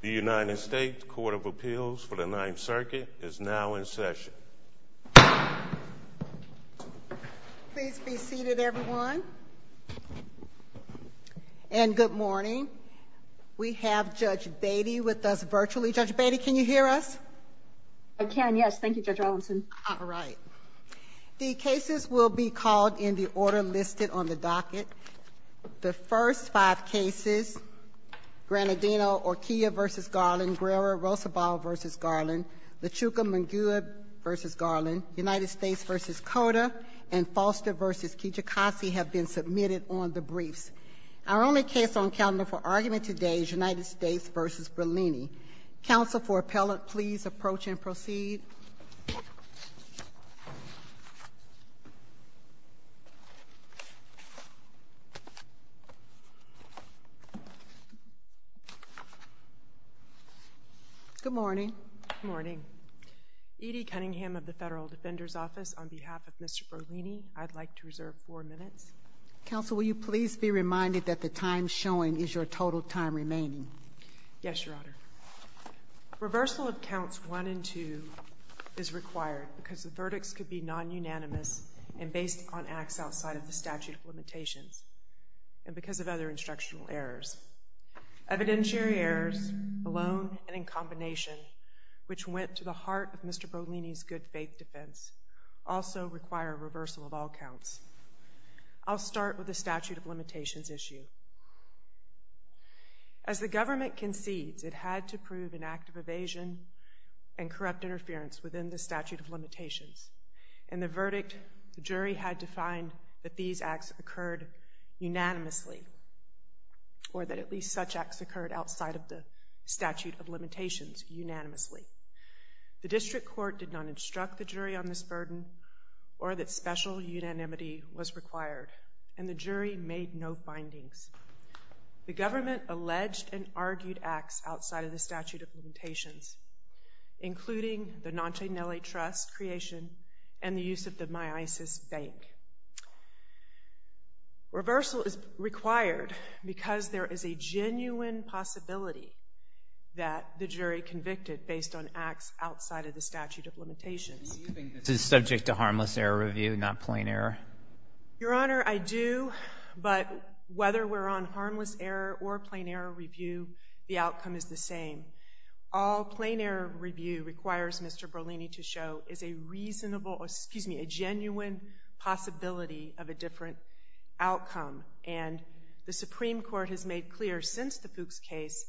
The United States Court of Appeals for the Ninth Circuit is now in session. Please be seated, everyone. And good morning. We have Judge Beatty with us virtually. Judge Beatty, can you hear us? I can. Yes. Thank you, Judge Robinson. All right. The cases will be called in the order listed on the docket. The first five cases, Granadino or Kia v. Garland, Guerrero-Rosobald v. Garland, Lachuca-Munguia v. Garland, United States v. Cota, and Foster v. Kijikasi have been submitted on the briefs. Our only case on calendar for argument today is United States v. Brollini. Counsel for appellant, please approach and proceed. Good morning. Good morning. Edie Cunningham of the Federal Defender's Office. On behalf of Mr. Brollini, I'd like to reserve four minutes. Counsel, will you please be reminded that the time showing is your total time remaining? Yes, Your Honor. Reversal of counts one and two is required because the verdicts could be non-unanimous and based on acts outside of the statute of limitations and because of other instructional errors. Evidentiary errors alone and in combination, which went to the heart of Mr. Brollini's good-faith defense, also require reversal of all counts. I'll start with the statute of limitations issue. As the government concedes, it had to prove an act of evasion and corrupt interference within the statute of limitations. In the verdict, the jury had to find that these acts occurred unanimously or that at least such acts occurred outside of the statute of limitations unanimously. The district court did not instruct the jury on this burden or that special unanimity was required, and the jury made no findings. The government alleged and argued acts outside of the statute of limitations, including the Noncenelli Trust creation and the use of the MyIsis Bank. Reversal is required because there is a genuine possibility that the jury convicted based on acts outside of the statute of limitations. Do you think this is subject to harmless error review, not plain error? Your Honor, I do, but whether we're on harmless error or plain error review, the outcome is the same. All plain error review requires Mr. Brollini to show is a reasonable, excuse me, a genuine possibility of a different outcome. And the Supreme Court has made clear since the Fuchs case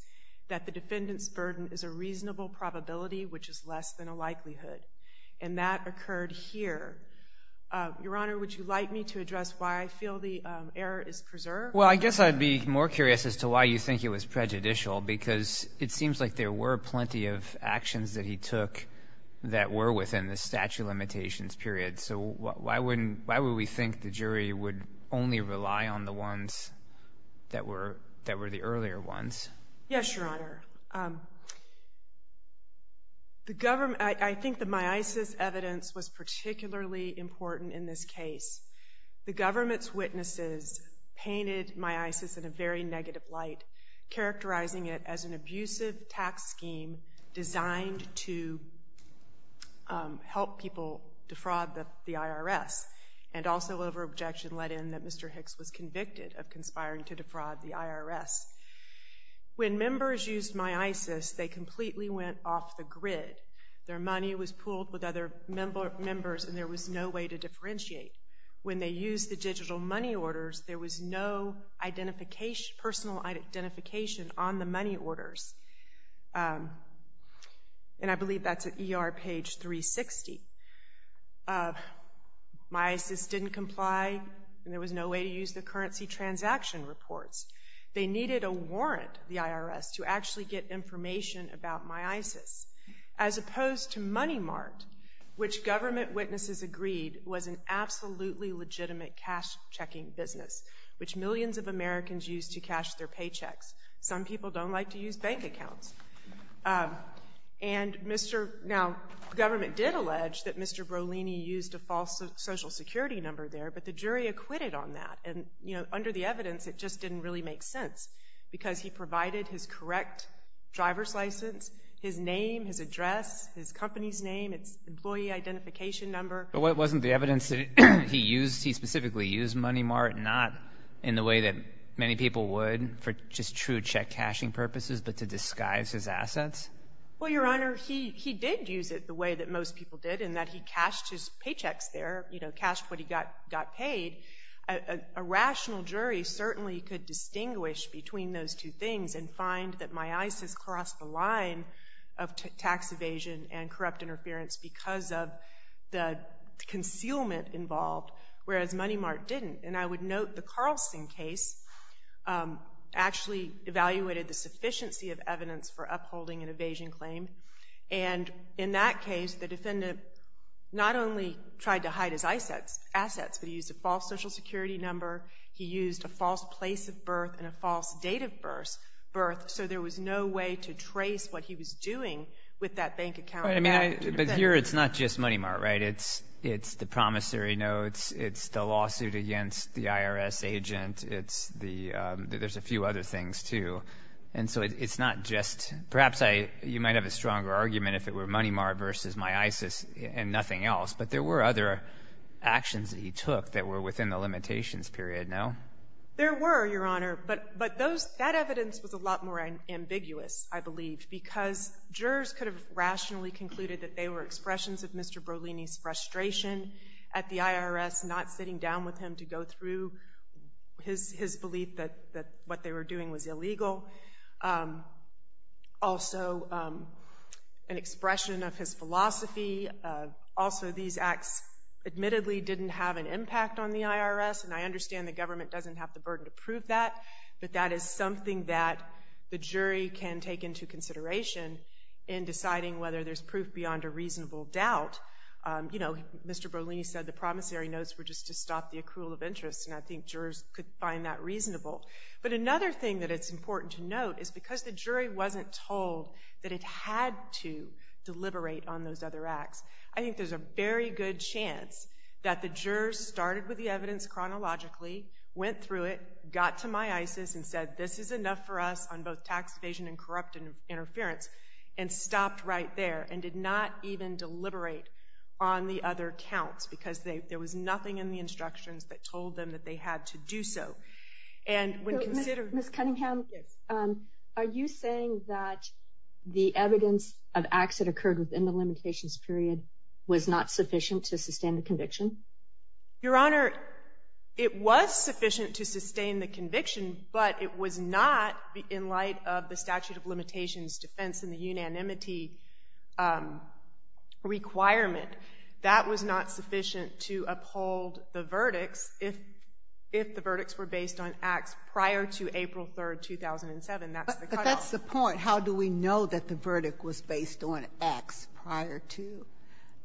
that the defendant's burden is a reasonable probability, which is less than a likelihood. And that occurred here. Your Honor, would you like me to address why I feel the error is preserved? Well, I guess I'd be more curious as to why you think it was prejudicial, because it seems like there were plenty of actions that he took that were within the statute of limitations period. So why wouldn't, why would we think the jury would only rely on the ones that were, that were the earlier ones? Yes, Your Honor. The government, I think the MyIsis evidence was particularly important in this case. The government's witnesses painted MyIsis in a very negative light, characterizing it as an abusive tax scheme designed to help people defraud the IRS, and also over objection let in that Mr. Hicks was convicted of conspiring to defraud the IRS. When members used MyIsis, they completely went off the grid. Their money was pooled with other members, and there was no way to differentiate. When they used the digital money orders, there was no identification, personal identification on the money orders, and I believe that's at ER page 360. MyIsis didn't comply, and there was no way to use the currency transaction reports. They needed a warrant, the IRS, to actually get information about MyIsis, as opposed to Money Mart, which government witnesses agreed was an absolutely legitimate cash checking business, which millions of Americans use to cash their paychecks. Some people don't like to use bank accounts. Now, the government did allege that Mr. Brolini used a false social security number there, but the jury acquitted on that, and under the evidence, it just didn't really make sense, because he provided his correct driver's license, his name, his address, his company's name, its employee identification number. But wasn't the evidence that he used, he specifically used Money Mart not in the way that many people would for just true check cashing purposes, but to disguise his assets? Well, Your Honor, he did use it the way that most people did, in that he cashed his paychecks there, you know, cashed what he got paid. A rational jury certainly could distinguish between those two things and find that MyIsis crossed the line of tax evasion and corrupt interference because of the concealment involved, whereas Money Mart didn't, and I would note the Carlson case, actually evaluated the sufficiency of evidence for upholding an evasion claim, and in that case, the defendant not only tried to hide his assets, but he used a false social security number, he used a false place of birth, and a false date of birth, so there was no way to trace what he was doing with that bank account. But here, it's not just Money Mart, right? It's the lawsuit against the IRS agent, it's the, there's a few other things, too, and so it's not just, perhaps I, you might have a stronger argument if it were Money Mart versus MyIsis and nothing else, but there were other actions that he took that were within the limitations period, no? There were, Your Honor, but, but those, that evidence was a lot more ambiguous, I believe, because jurors could have rationally concluded that they were expressions of Mr. Berlini's frustration at the IRS not sitting down with him to go through his, his belief that, that what they were doing was illegal. Also, an expression of his philosophy. Also, these acts admittedly didn't have an impact on the IRS, and I understand the government doesn't have the burden to prove that, but that is something that the jury can take into consideration in deciding whether there's proof beyond a Mr. Berlini said the promissory notes were just to stop the accrual of interest, and I think jurors could find that reasonable. But another thing that it's important to note is because the jury wasn't told that it had to deliberate on those other acts, I think there's a very good chance that the jurors started with the evidence chronologically, went through it, got to MyIsis and said, this is enough for us on both tax evasion and corrupt interference, and stopped right there and did not even deliberate on the other counts, because they, there was nothing in the instructions that told them that they had to do so. And when considered- Ms. Cunningham, are you saying that the evidence of acts that occurred within the limitations period was not sufficient to sustain the conviction? Your Honor, it was sufficient to sustain the conviction, but it was not in light of the statute of limitations defense and the unanimity requirement. That was not sufficient to uphold the verdicts if the verdicts were based on acts prior to April 3, 2007. That's the cutoff. But that's the point. How do we know that the verdict was based on acts prior to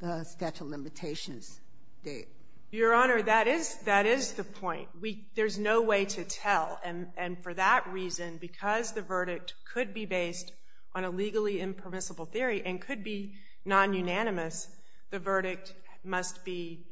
the statute of limitations date? Your Honor, that is the point. We, there's no way to tell. And for that reason, because the verdict could be based on a legally impermissible theory and could be non-unanimous, the verdict must be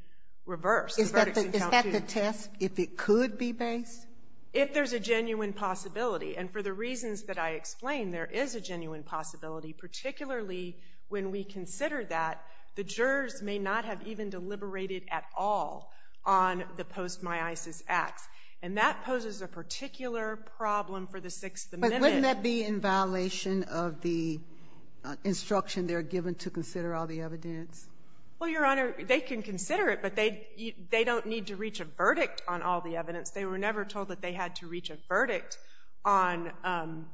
reversed. Is that the test, if it could be based? If there's a genuine possibility. And for the reasons that I explained, there is a genuine possibility, particularly when we consider that the jurors may not have even deliberated at all on the post-MyIsis acts. And that poses a particular problem for the Sixth Amendment. But wouldn't that be in violation of the instruction they're given to consider all the evidence? Well, Your Honor, they can consider it, but they don't need to reach a verdict on all the evidence. They were never told that they had to reach a verdict on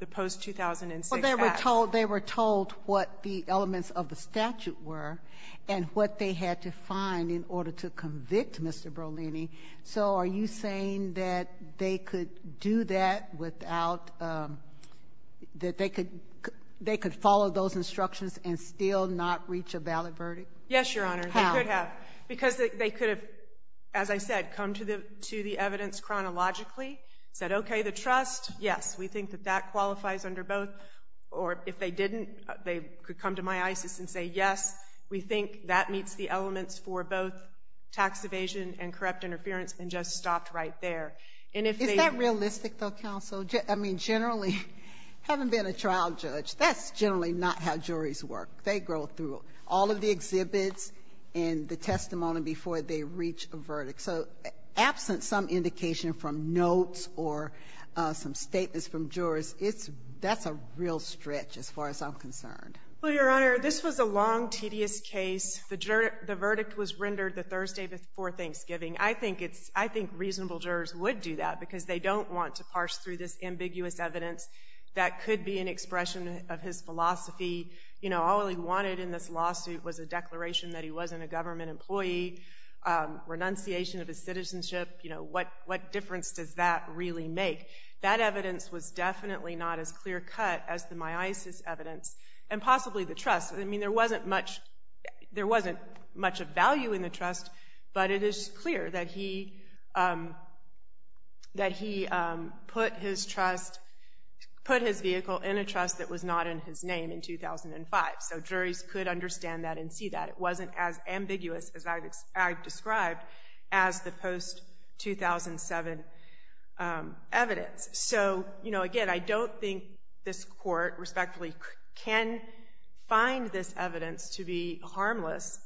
the post-2006 acts. Well, they were told what the elements of the statute were and what they had to find in order to convict Mr. Brolini. So are you saying that they could do that without, that they could follow those instructions and still not reach a valid verdict? Yes, Your Honor. How? They could have. Because they could have, as I said, come to the evidence chronologically, said, okay, the trust, yes, we think that that qualifies under both. Or if they didn't, they could come to MyIsis and say, yes, we think that meets the elements for both tax evasion and corrupt interference, and just stopped right there. And if they — Is that realistic, though, counsel? I mean, generally, having been a trial judge, that's generally not how juries work. They go through all of the exhibits and the testimony before they reach a verdict. So absent some indication from notes or some statements from jurors, that's a real stretch as far as I'm concerned. Well, Your Honor, this was a long, tedious case. The verdict was rendered the Thursday before Thanksgiving. I think reasonable jurors would do that because they don't want to parse through this ambiguous evidence that could be an expression of his philosophy. You know, all he wanted in this lawsuit was a declaration that he wasn't a government employee, renunciation of his citizenship. You know, what difference does that really make? That evidence was definitely not as clear-cut as the MyIsis evidence, and possibly the trust. I mean, there wasn't much — there wasn't much of value in the trust, but it is clear that he — that he put his trust — put his vehicle in a trust that was not in his name in 2005. So juries could understand that and see that. It wasn't as ambiguous as I've described as the post-2007 evidence. So, you know, again, I don't think this Court respectfully can find this evidence to be harmless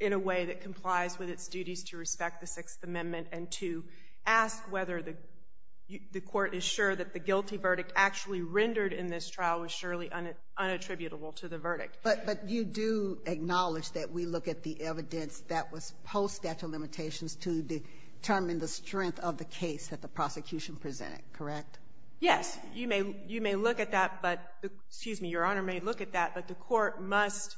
in a way that complies with its duties to respect the Sixth Amendment and to ask whether the Court is sure that the guilty verdict actually rendered in this trial was surely unattributable to the verdict. But you do acknowledge that we look at the evidence that was post-statute of limitations to determine the strength of the case that the prosecution presented, correct? Yes. You may look at that, but — excuse me, Your Honor — may look at that, but the Court must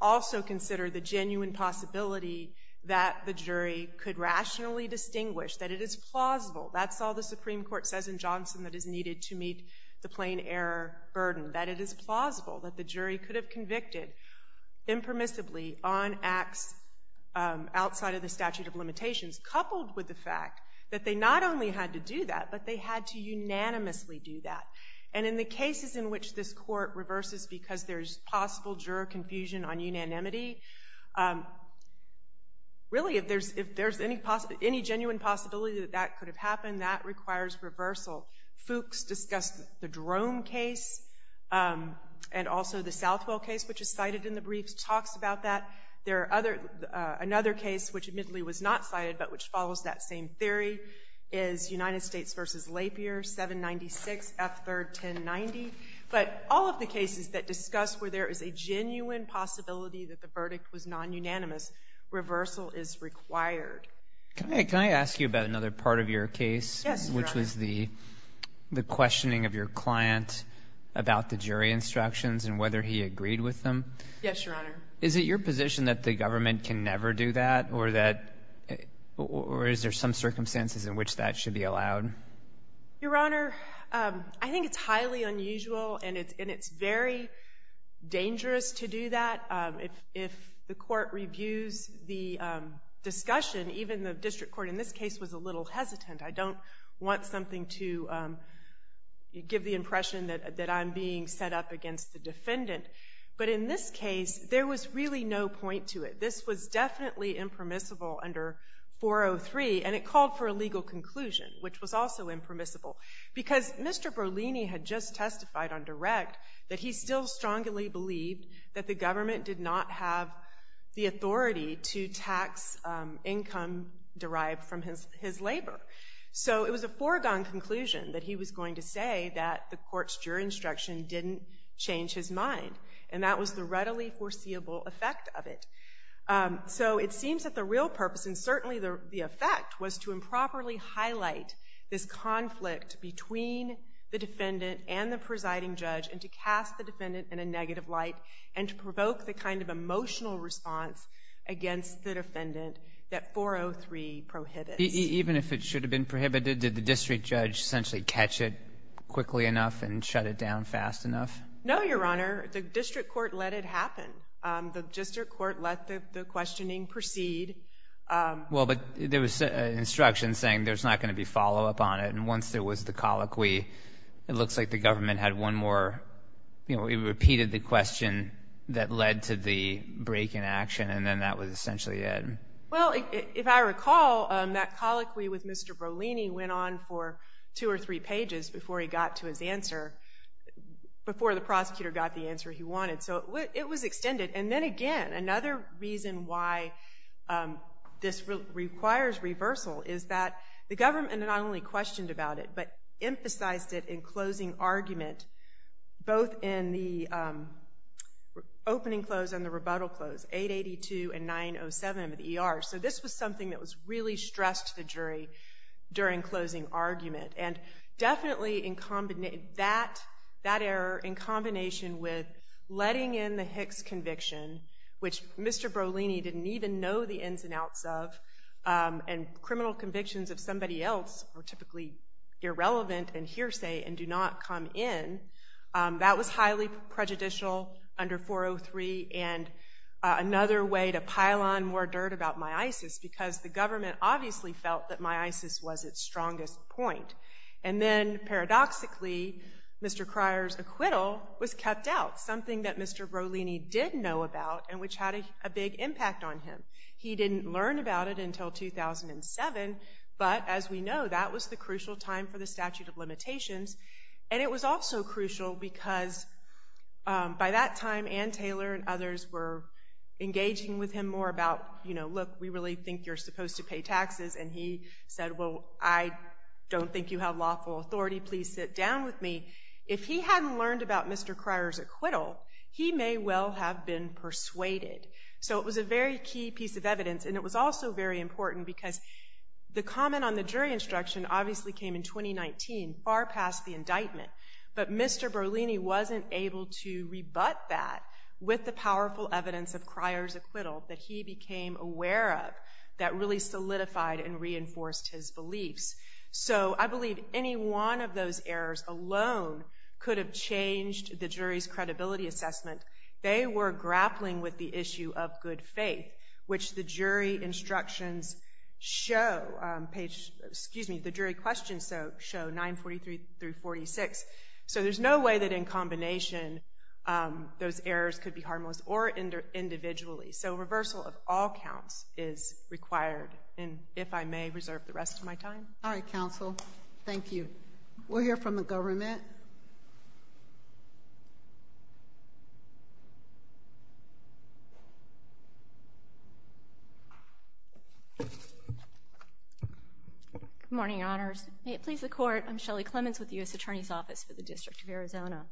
also consider the genuine possibility that the jury could rationally distinguish that it is plausible. That's all the Supreme Court says in Johnson that is needed to meet the plain error burden. That it is plausible. That the jury could have convicted impermissibly on acts outside of the statute of limitations, coupled with the fact that they not only had to do that, but they had to unanimously do that. And in the cases in which this Court reverses because there's possible juror confusion on unanimity, really, if there's any genuine possibility that that could have happened, that requires reversal. Fuchs discussed the Drome case and also the Southwell case, which is cited in the briefs, talks about that. There are other — another case, which admittedly was not cited, but which follows that same theory, is United States v. Lapierre, 796, F. 3rd, 1090. But all of the cases that discuss where there is a genuine possibility that the verdict was non-unanimous, reversal is required. Can I ask you about another part of your case? Yes, Your Honor. Which was the questioning of your client about the jury instructions and whether he agreed with them? Yes, Your Honor. Is it your position that the government can never do that, or that — or is there some circumstances in which that should be allowed? Your Honor, I think it's highly unusual, and it's very dangerous to do that. If the Court reviews the discussion, even the District Court in this case was a little hesitant. I don't want something to give the impression that I'm being set up against the defendant. But in this case, there was really no point to it. This was definitely impermissible under 403, and it called for a legal conclusion, which was also impermissible. Because Mr. Berlini had just testified on direct that he still strongly believed that the government did not have the authority to tax income derived from his labor. So it was a foregone conclusion that he was going to say that the Court's jury instruction didn't change his mind, and that was the readily foreseeable effect of it. So it seems that the real purpose, and certainly the effect, was to improperly highlight this conflict between the defendant and the presiding judge, and to cast the defendant in a negative light, and to provoke the kind of emotional response against the defendant that 403 prohibits. Even if it should have been prohibited, did the District Judge essentially catch it quickly enough and shut it down fast enough? No, Your Honor. The District Court let it happen. The District Court let the questioning proceed. Well, but there was instruction saying there's not going to be follow-up on it, and once there was the colloquy, it looks like the government had one more, you know, it repeated the question that led to the break in action, and then that was essentially it. Well, if I recall, that colloquy with Mr. Berlini went on for two or three pages before he got to his answer, before the prosecutor got the answer he wanted. So it was extended. And then again, another reason why this requires reversal is that the government not only questioned about it, but emphasized it in closing argument, both in the opening close and the rebuttal close, 882 and 907 of the ER. So this was something that was really stressed to the jury during closing argument. And definitely that error, in combination with letting in the Hicks conviction, which Mr. Berlini didn't even know the ins and outs of, and criminal convictions of somebody else were typically irrelevant and hearsay and do not come in, that was highly prejudicial under 403, and another way to pile on more dirt about MI-ISIS, because the government obviously felt that MI-ISIS was its strongest point. And then paradoxically, Mr. Cryer's acquittal was kept out, something that Mr. Berlini did know about, and which had a big impact on him. He didn't learn about it until 2007, but as we know, that was the crucial time for the statute of limitations. And it was also crucial because by that time, Ann Taylor and others were engaging with him more about, you know, look, we really think you're supposed to pay taxes. And he said, well, I don't think you have lawful authority. Please sit down with me. If he hadn't learned about Mr. Cryer's acquittal, he may well have been persuaded. So it was a very key piece of evidence, and it was also very important because the comment on the jury instruction obviously came in 2019, far past the indictment. But Mr. Berlini wasn't able to rebut that with the powerful evidence of Cryer's acquittal that he became aware of that really solidified and reinforced his beliefs. So I believe any one of those errors alone could have changed the jury's credibility assessment. They were grappling with the issue of good faith, which the jury instructions show, page, excuse me, the jury questions show 943 through 46. So there's no way that in combination, those errors could be harmless or individually. So reversal of all counts is required. And if I may reserve the rest of my time. All right, counsel. Thank you. We'll hear from the government. Good morning, Your Honors. May it please the Court, I'm Shelly Clements with the U.S. Attorney's Office for the District of Arizona.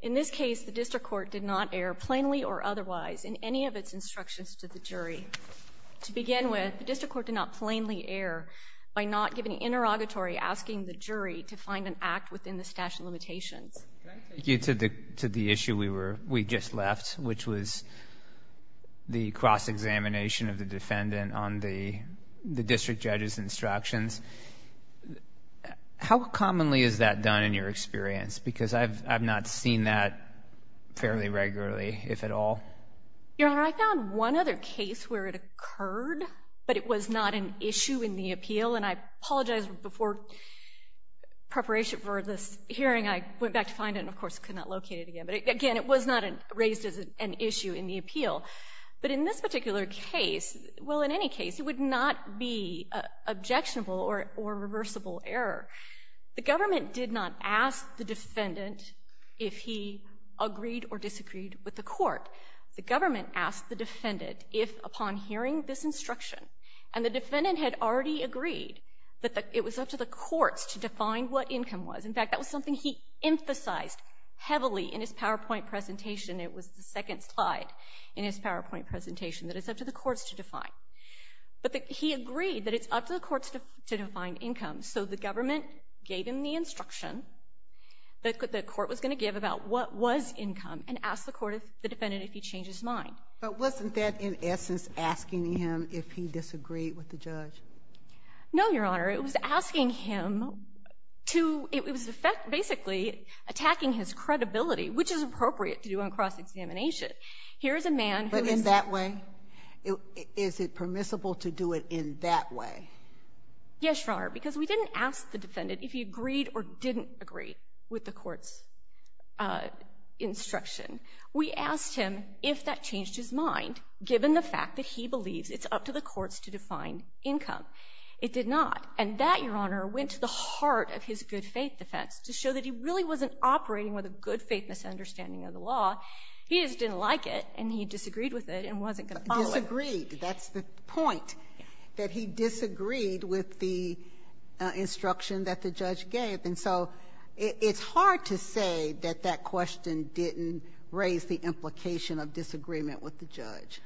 In this case, the District Court did not err plainly or otherwise in any of its instructions to the jury. To begin with, the District Court did not plainly err by not giving an interrogatory asking the jury to find an act within the statute of limitations. Can I take you to the issue we just left, which was the cross-examination of the defendant on the district judge's instructions? How commonly is that done in your experience? Because I've not seen that fairly regularly, if at all. Your Honor, I found one other case where it occurred, but it was not an issue in the appeal. And I apologize before preparation for this hearing. I went back to find it and, of course, could not locate it again. But again, it was not raised as an issue in the appeal. But in this particular case, well, in any case, it would not be an objectionable or reversible error. The government did not ask the defendant if he agreed or disagreed with the Court. The government asked the defendant if, upon hearing this instruction, and the government agreed that it was up to the courts to define what income was. In fact, that was something he emphasized heavily in his PowerPoint presentation. It was the second slide in his PowerPoint presentation, that it's up to the courts to define. But he agreed that it's up to the courts to define income. So the government gave him the instruction that the court was going to give about what was income and asked the defendant if he changed his mind. But wasn't that, in essence, asking him if he disagreed with the judge? No, Your Honor. It was asking him to — it was basically attacking his credibility, which is appropriate to do on cross-examination. Here is a man who is — But in that way? Is it permissible to do it in that way? Yes, Your Honor, because we didn't ask the defendant if he agreed or didn't agree with the Court's instruction. We asked him if that changed his mind, given the fact that he believes it's up to the courts to define income. It did not. And that, Your Honor, went to the heart of his good-faith defense, to show that he really wasn't operating with a good-faith misunderstanding of the law. He just didn't like it, and he disagreed with it and wasn't going to follow it. Disagreed. That's the point, that he disagreed with the instruction that the judge gave. And so it's hard to say that that question didn't raise the implication of disagreement with the judge.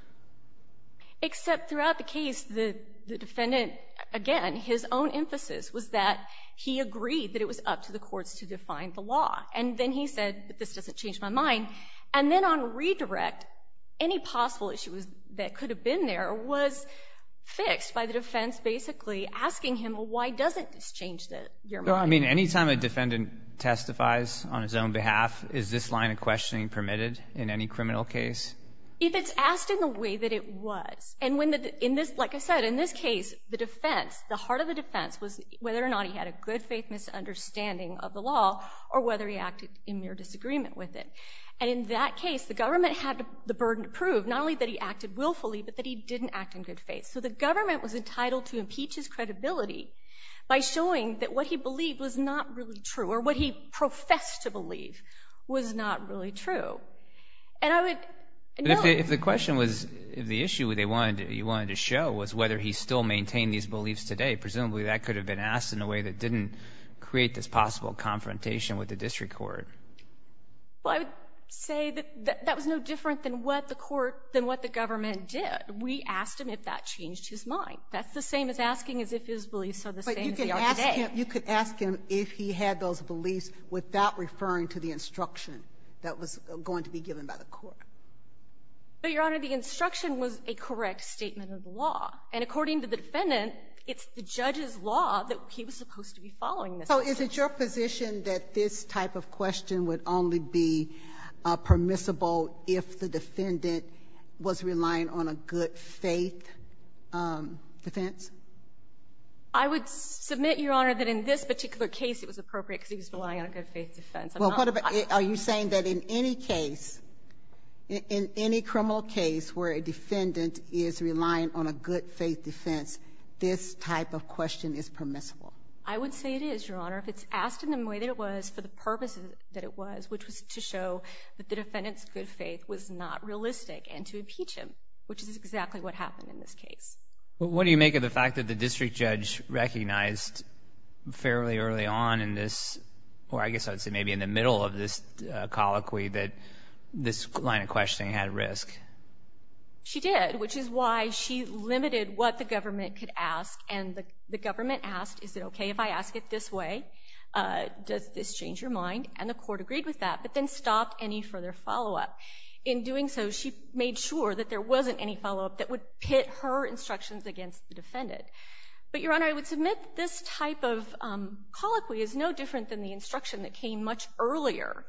Except throughout the case, the defendant, again, his own emphasis was that he agreed that it was up to the courts to define the law. And then he said, but this doesn't change my mind. And then on redirect, any possible issues that could have been there was fixed by the defense basically asking him, well, why doesn't this change your mind? Well, I mean, any time a defendant testifies on his own behalf, is this line of questioning permitted in any criminal case? If it's asked in the way that it was. And when the, in this, like I said, in this case, the defense, the heart of the defense was whether or not he had a good-faith misunderstanding of the law or whether he acted in mere disagreement with it. And in that case, the government had the burden to prove not only that he acted willfully, but that he didn't act in good faith. So the government was entitled to impeach his credibility by showing that what he believed was not really true, or what he professed to believe was not really true. And I would know — But if the question was, if the issue they wanted to, you wanted to show was whether he still maintained these beliefs today, presumably that could have been asked in a way that didn't create this possible confrontation with the district court. Well, I would say that that was no different than what the court, than what the government did. We asked him if that changed his mind. That's the same as asking as if his beliefs are the same as they are today. But you could ask him if he had those beliefs without referring to the instruction that was going to be given by the court. But, Your Honor, the instruction was a correct statement of the law. And according to the defendant, it's the judge's law that he was supposed to be following this. So is it your position that this type of question would only be permissible if the defendant was relying on a good-faith defense? I would submit, Your Honor, that in this particular case it was appropriate because he was relying on a good-faith defense. Well, what about — are you saying that in any case, in any criminal case where a defendant is relying on a good-faith defense, this type of question is permissible? I would say it is, Your Honor, if it's asked in the way that it was for the purpose that it was, which was to show that the defendant's good faith was not realistic and to impeach him, which is exactly what happened in this case. Well, what do you make of the fact that the district judge recognized fairly early on in this — or I guess I would say maybe in the middle of this colloquy that this line of questioning had risk? She did, which is why she limited what the government could ask. And the government asked, is it okay if I ask it this way? Does this change your mind? And the court agreed with that, but then stopped any further follow-up. In doing so, she made sure that there wasn't any follow-up that would pit her instructions against the defendant. But, Your Honor, I would submit this type of colloquy is no different than the instruction that came much earlier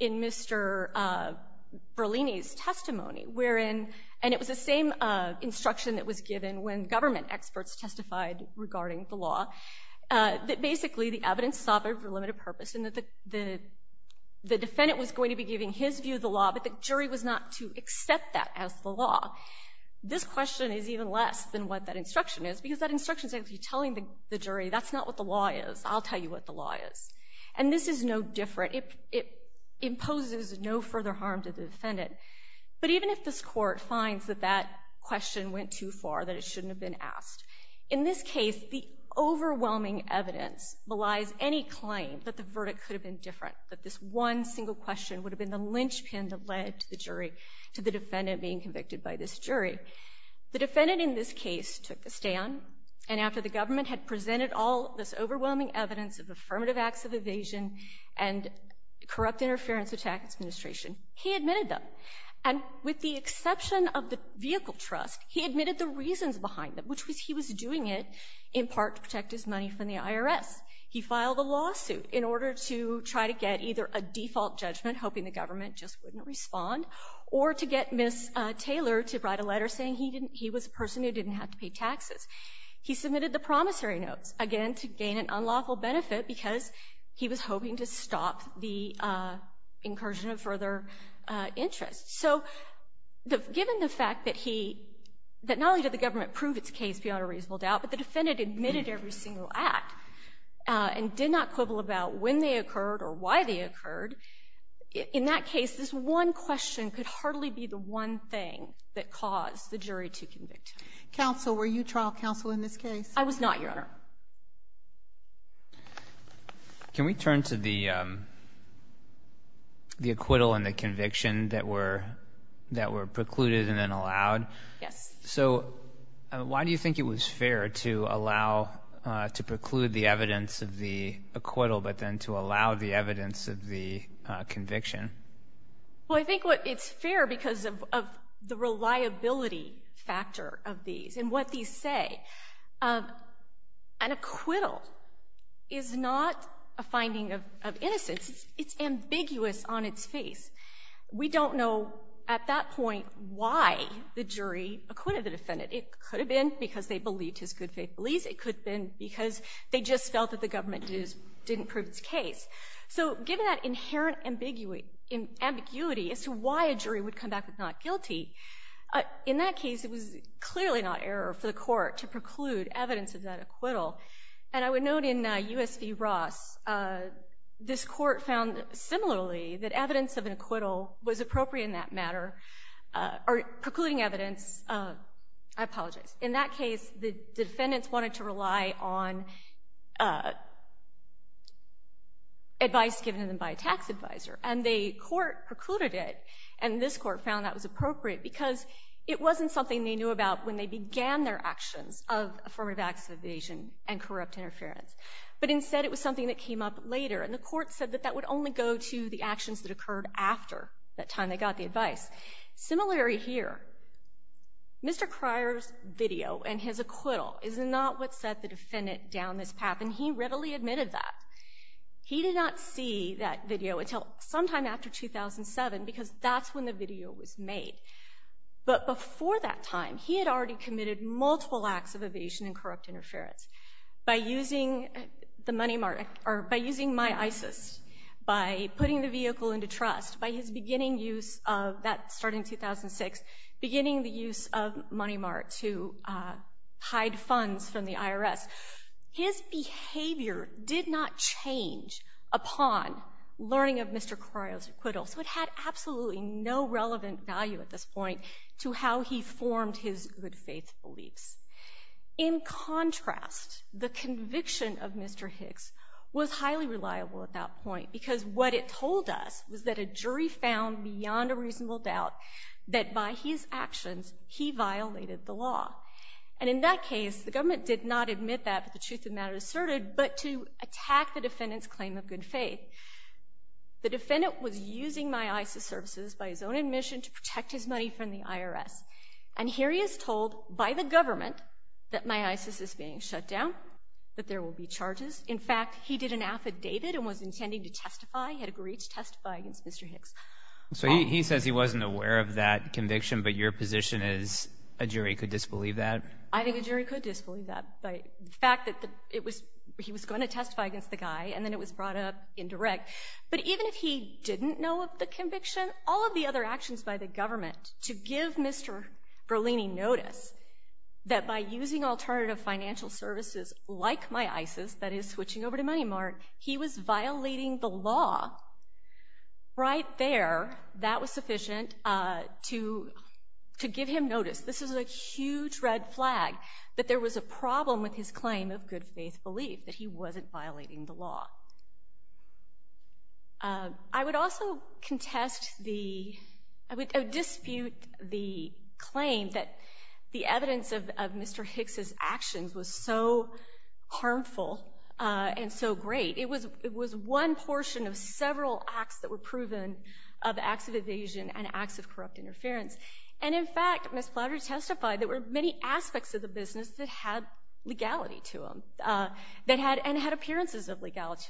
in Mr. Berlini's testimony, wherein — and it was the same instruction that was given when government experts testified regarding the law — that basically the evidence saw for a limited purpose and that the defendant was going to be giving his view of the law, but the jury was not to accept that as the law. This question is even less than what that instruction is, because that instruction is actually telling the jury, that's not what the law is. I'll tell you what the law is. And this is no different. It imposes no further harm to the defendant. But even if this court finds that that question went too far, that it shouldn't have been asked, in this case, the overwhelming evidence belies any claim that the verdict could have been different, that this one single question would have been the linchpin that led the jury to the defendant being convicted by this jury. The defendant in this case took the stand, and after the government had presented all this overwhelming evidence of affirmative acts of evasion and corrupt interference with tax administration, he admitted them. And with the exception of the vehicle trust, he admitted the reasons behind them, which was he was doing it, in part, to protect his money from the IRS. He filed a lawsuit in order to try to get either a default judgment, hoping the government just wouldn't respond, or to get Ms. Taylor to write a letter saying he was a person who didn't have to pay taxes. He submitted the promissory notes, again, to gain an unlawful benefit, because he was hoping to stop the incursion of further interest. So given the fact that not only did the government prove its case beyond a reasonable doubt, but the defendant admitted every single act, and did not quibble about when they occurred or why they occurred, in that case, this one question could hardly be the one thing that caused the jury to convict him. Counsel, were you trial counsel in this case? I was not, Your Honor. Can we turn to the acquittal and the conviction that were precluded and then allowed? Yes. So why do you think it was fair to allow, to preclude the evidence of the acquittal, but then to allow the evidence of the conviction? Well, I think it's fair because of the reliability factor of these, and what these say. An acquittal is not a finding of innocence. It's ambiguous on its face. We don't know, at that point, why the jury acquitted the defendant. It could have been because they believed his good faith beliefs. It could have been because they just felt that the government didn't prove its case. So given that inherent ambiguity as to why a jury would come back with not guilty, in that case, it was clearly not error for the court to preclude evidence of that acquittal. And I would note in U.S. v. Ross, this court found similarly that evidence of an acquittal was appropriate in that matter, or precluding evidence. I apologize. In that case, the defendants wanted to rely on advice given to them by a tax advisor, and the court precluded it. And this court found that was appropriate because it wasn't something they knew about when they began their actions of affirmative action evasion and corrupt interference. But instead, it was something that came up later, and the court said that that would only go to the actions that occurred after that time they got the advice. Similarly here, Mr. Cryer's video and his acquittal is not what set the defendant down this path, and he readily admitted that. He did not see that video until sometime after 2007, because that's when the video was made. But before that time, he had already committed multiple acts of evasion and corrupt interference. By using the Money Mart, or by using MyISIS, by putting the vehicle into trust, by his beginning use of that starting in 2006, beginning the use of Money Mart to hide funds from the IRS. His behavior did not change upon learning of Mr. Cryer's acquittal, so it had absolutely no relevant value at this point to how he believes. In contrast, the conviction of Mr. Hicks was highly reliable at that point, because what it told us was that a jury found beyond a reasonable doubt that by his actions, he violated the law. And in that case, the government did not admit that, but the truth of the matter asserted, but to attack the defendant's claim of good faith. The defendant was using MyISIS services by his own admission to protect his money from the IRS. And here he is told by the government that MyISIS is being shut down, that there will be charges. In fact, he did an affidavit and was intending to testify, he had agreed to testify against Mr. Hicks. So he says he wasn't aware of that conviction, but your position is a jury could disbelieve that? I think a jury could disbelieve that. The fact that he was going to testify against the guy, and then it was brought up indirect. But even if he didn't know of the conviction, he would still notice that by using alternative financial services like MyISIS, that is switching over to Money Mart, he was violating the law. Right there, that was sufficient to give him notice. This is a huge red flag, that there was a problem with his claim of good faith belief, that he wasn't violating the law. I would also say that the evidence of Mr. Hicks' actions was so harmful and so great, it was one portion of several acts that were proven of acts of evasion and acts of corrupt interference. And in fact, Ms. Plowder testified there were many aspects of the business that had legality to them, and had appearances of legality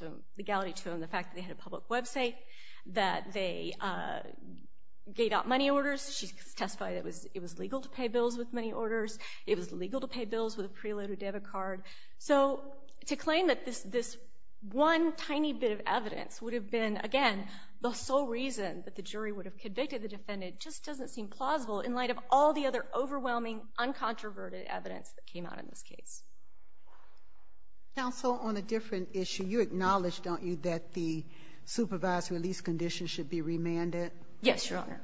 to them. The fact that they had a public website, that they gave out money orders. She testified it was legal to pay bills with money orders. It was legal to pay bills with a preloaded debit card. So to claim that this one tiny bit of evidence would have been, again, the sole reason that the jury would have convicted the defendant just doesn't seem plausible in light of all the other overwhelming, uncontroverted evidence that came out in this case. Counsel, on a different issue, you acknowledge, don't you, that the supervised release condition should be remanded? Yes, Your Honor.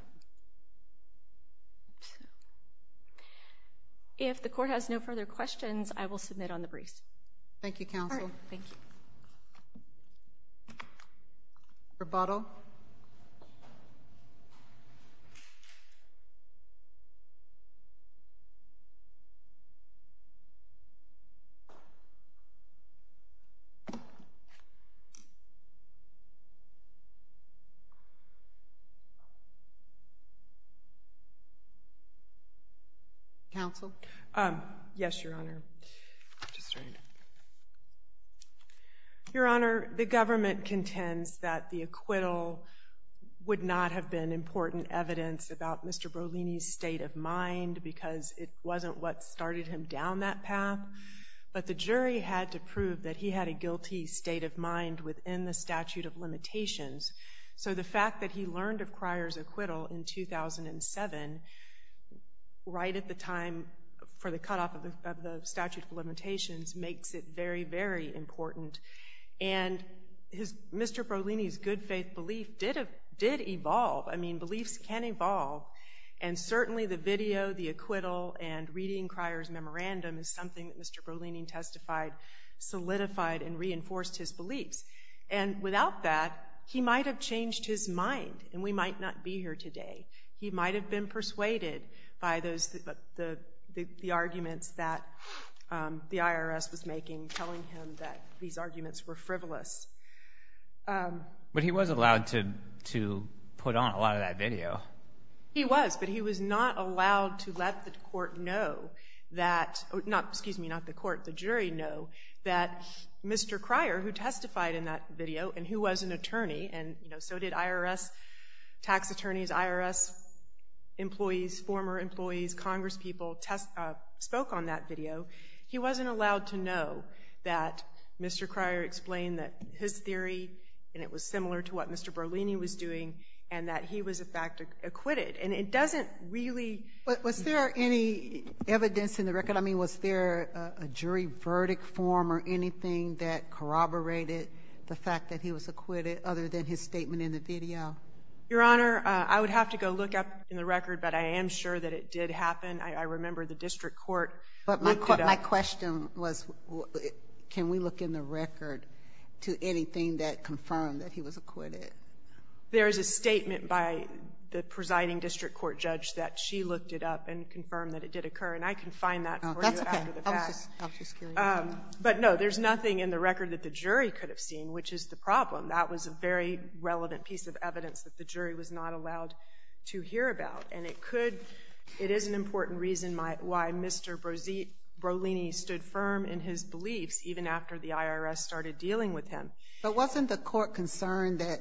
If the court has no further questions, I will submit on the briefs. Thank you, Counsel. Thank you. Rebuttal. Counsel? Yes, Your Honor. Just a second. Your Honor, the government contends that the acquittal would not have been important evidence about Mr. Brolini's state of mind, because it wasn't what started him down that path. But the jury had to prove that he had a guilty state of mind within the statute of limitations. So the fact that he learned of Cryer's acquittal in 2007, right at the time for the cutoff of the statute of limitations, makes it very, very important. And Mr. Brolini's good faith belief did evolve. I mean, beliefs can evolve. And certainly the video, the acquittal, and reading Cryer's memorandum is something that Mr. Brolini testified solidified and reinforced his beliefs. And without that, he might have changed his mind, and we might not be here today. He might have been persuaded by the arguments that the IRS was making, telling him that these arguments were frivolous. But he was allowed to put on a lot of that video. He was, but he was not allowed to let the court know that, excuse me, not the court, the jury know that Mr. Cryer, who testified in that video, and who was an attorney, and so did IRS tax attorneys, IRS employees, former employees, congresspeople, spoke on that video. He wasn't allowed to know that Mr. Cryer explained that his theory, and it was similar to what Mr. Brolini was doing, and that he was, in fact, acquitted. And it doesn't really But was there any evidence in the record? I mean, was there a jury verdict form or anything that corroborated the fact that he was acquitted, other than his statement in the video? Your Honor, I would have to go look up in the record, but I am sure that it did happen. I remember the district court looked it up. But my question was, can we look in the record to anything that confirmed that he was acquitted? There is a statement by the presiding district court judge that she looked it up and confirmed that it did occur, and I can find that for you after the fact. Oh, that's okay. I was just curious. But no, there's nothing in the record that the jury could have seen, which is the problem. That was a very relevant piece of evidence that the jury was not allowed to hear about. And it could — it is an important reason why Mr. Brolini stood firm in his beliefs, even after the IRS started dealing with him. But wasn't the court concerned that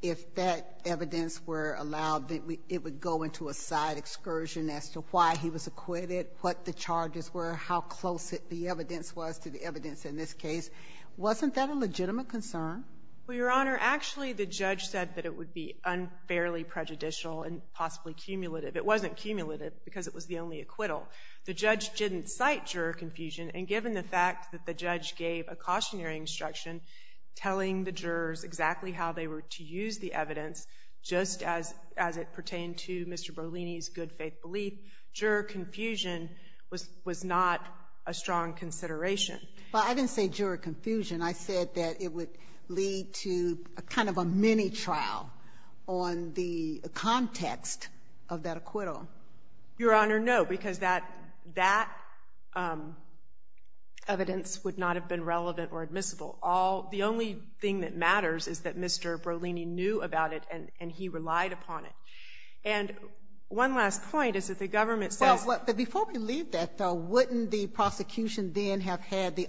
if that evidence were allowed, that it would go into a side excursion as to why he was acquitted, what the charges were, how close the evidence was to the evidence in this case? Wasn't that a legitimate concern? Well, Your Honor, actually, the judge said that it would be unfairly prejudicial and possibly cumulative. It wasn't cumulative because it was the only acquittal. The judge didn't cite juror confusion. And given the fact that the judge gave a cautionary instruction telling the jurors exactly how they were to use the evidence, just as it pertained to Mr. Brolini's good-faith belief, juror confusion was not a strong consideration. But I didn't say juror confusion. I said that it would lead to kind of a mini-trial on the context of that acquittal. Your Honor, no, because that evidence would not have been relevant or admissible. The only thing that matters is that Mr. Brolini knew about it and he relied upon it. And one last point is that the government says — Well, before we leave that, though, wouldn't the prosecution then have had the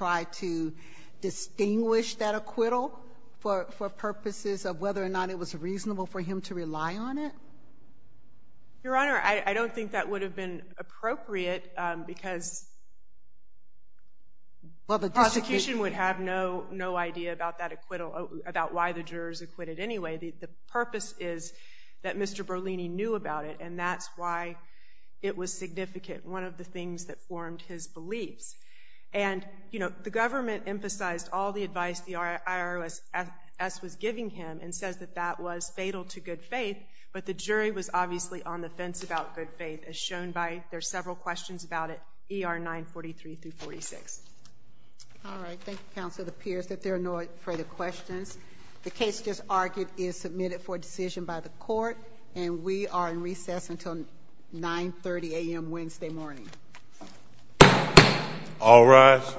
right to distinguish that acquittal for purposes of whether or not it was reasonable for him to rely on it? Your Honor, I don't think that would have been appropriate because the prosecution would have no idea about that acquittal, about why the jurors acquitted anyway. The purpose is that Mr. Brolini knew about it and that's why it was significant, one of the things that formed his beliefs. And, you know, the government emphasized all the advice the IRS was giving him and says that that was fatal to good faith, but the jury was obviously on the fence about good faith as shown by there's several questions about it, ER 943-46. All right. Thank you, Counsel. It appears that there are no further questions. The case just argued is submitted for decision by the Court and we are in recess until 9.30 a.m. Wednesday morning. All rise.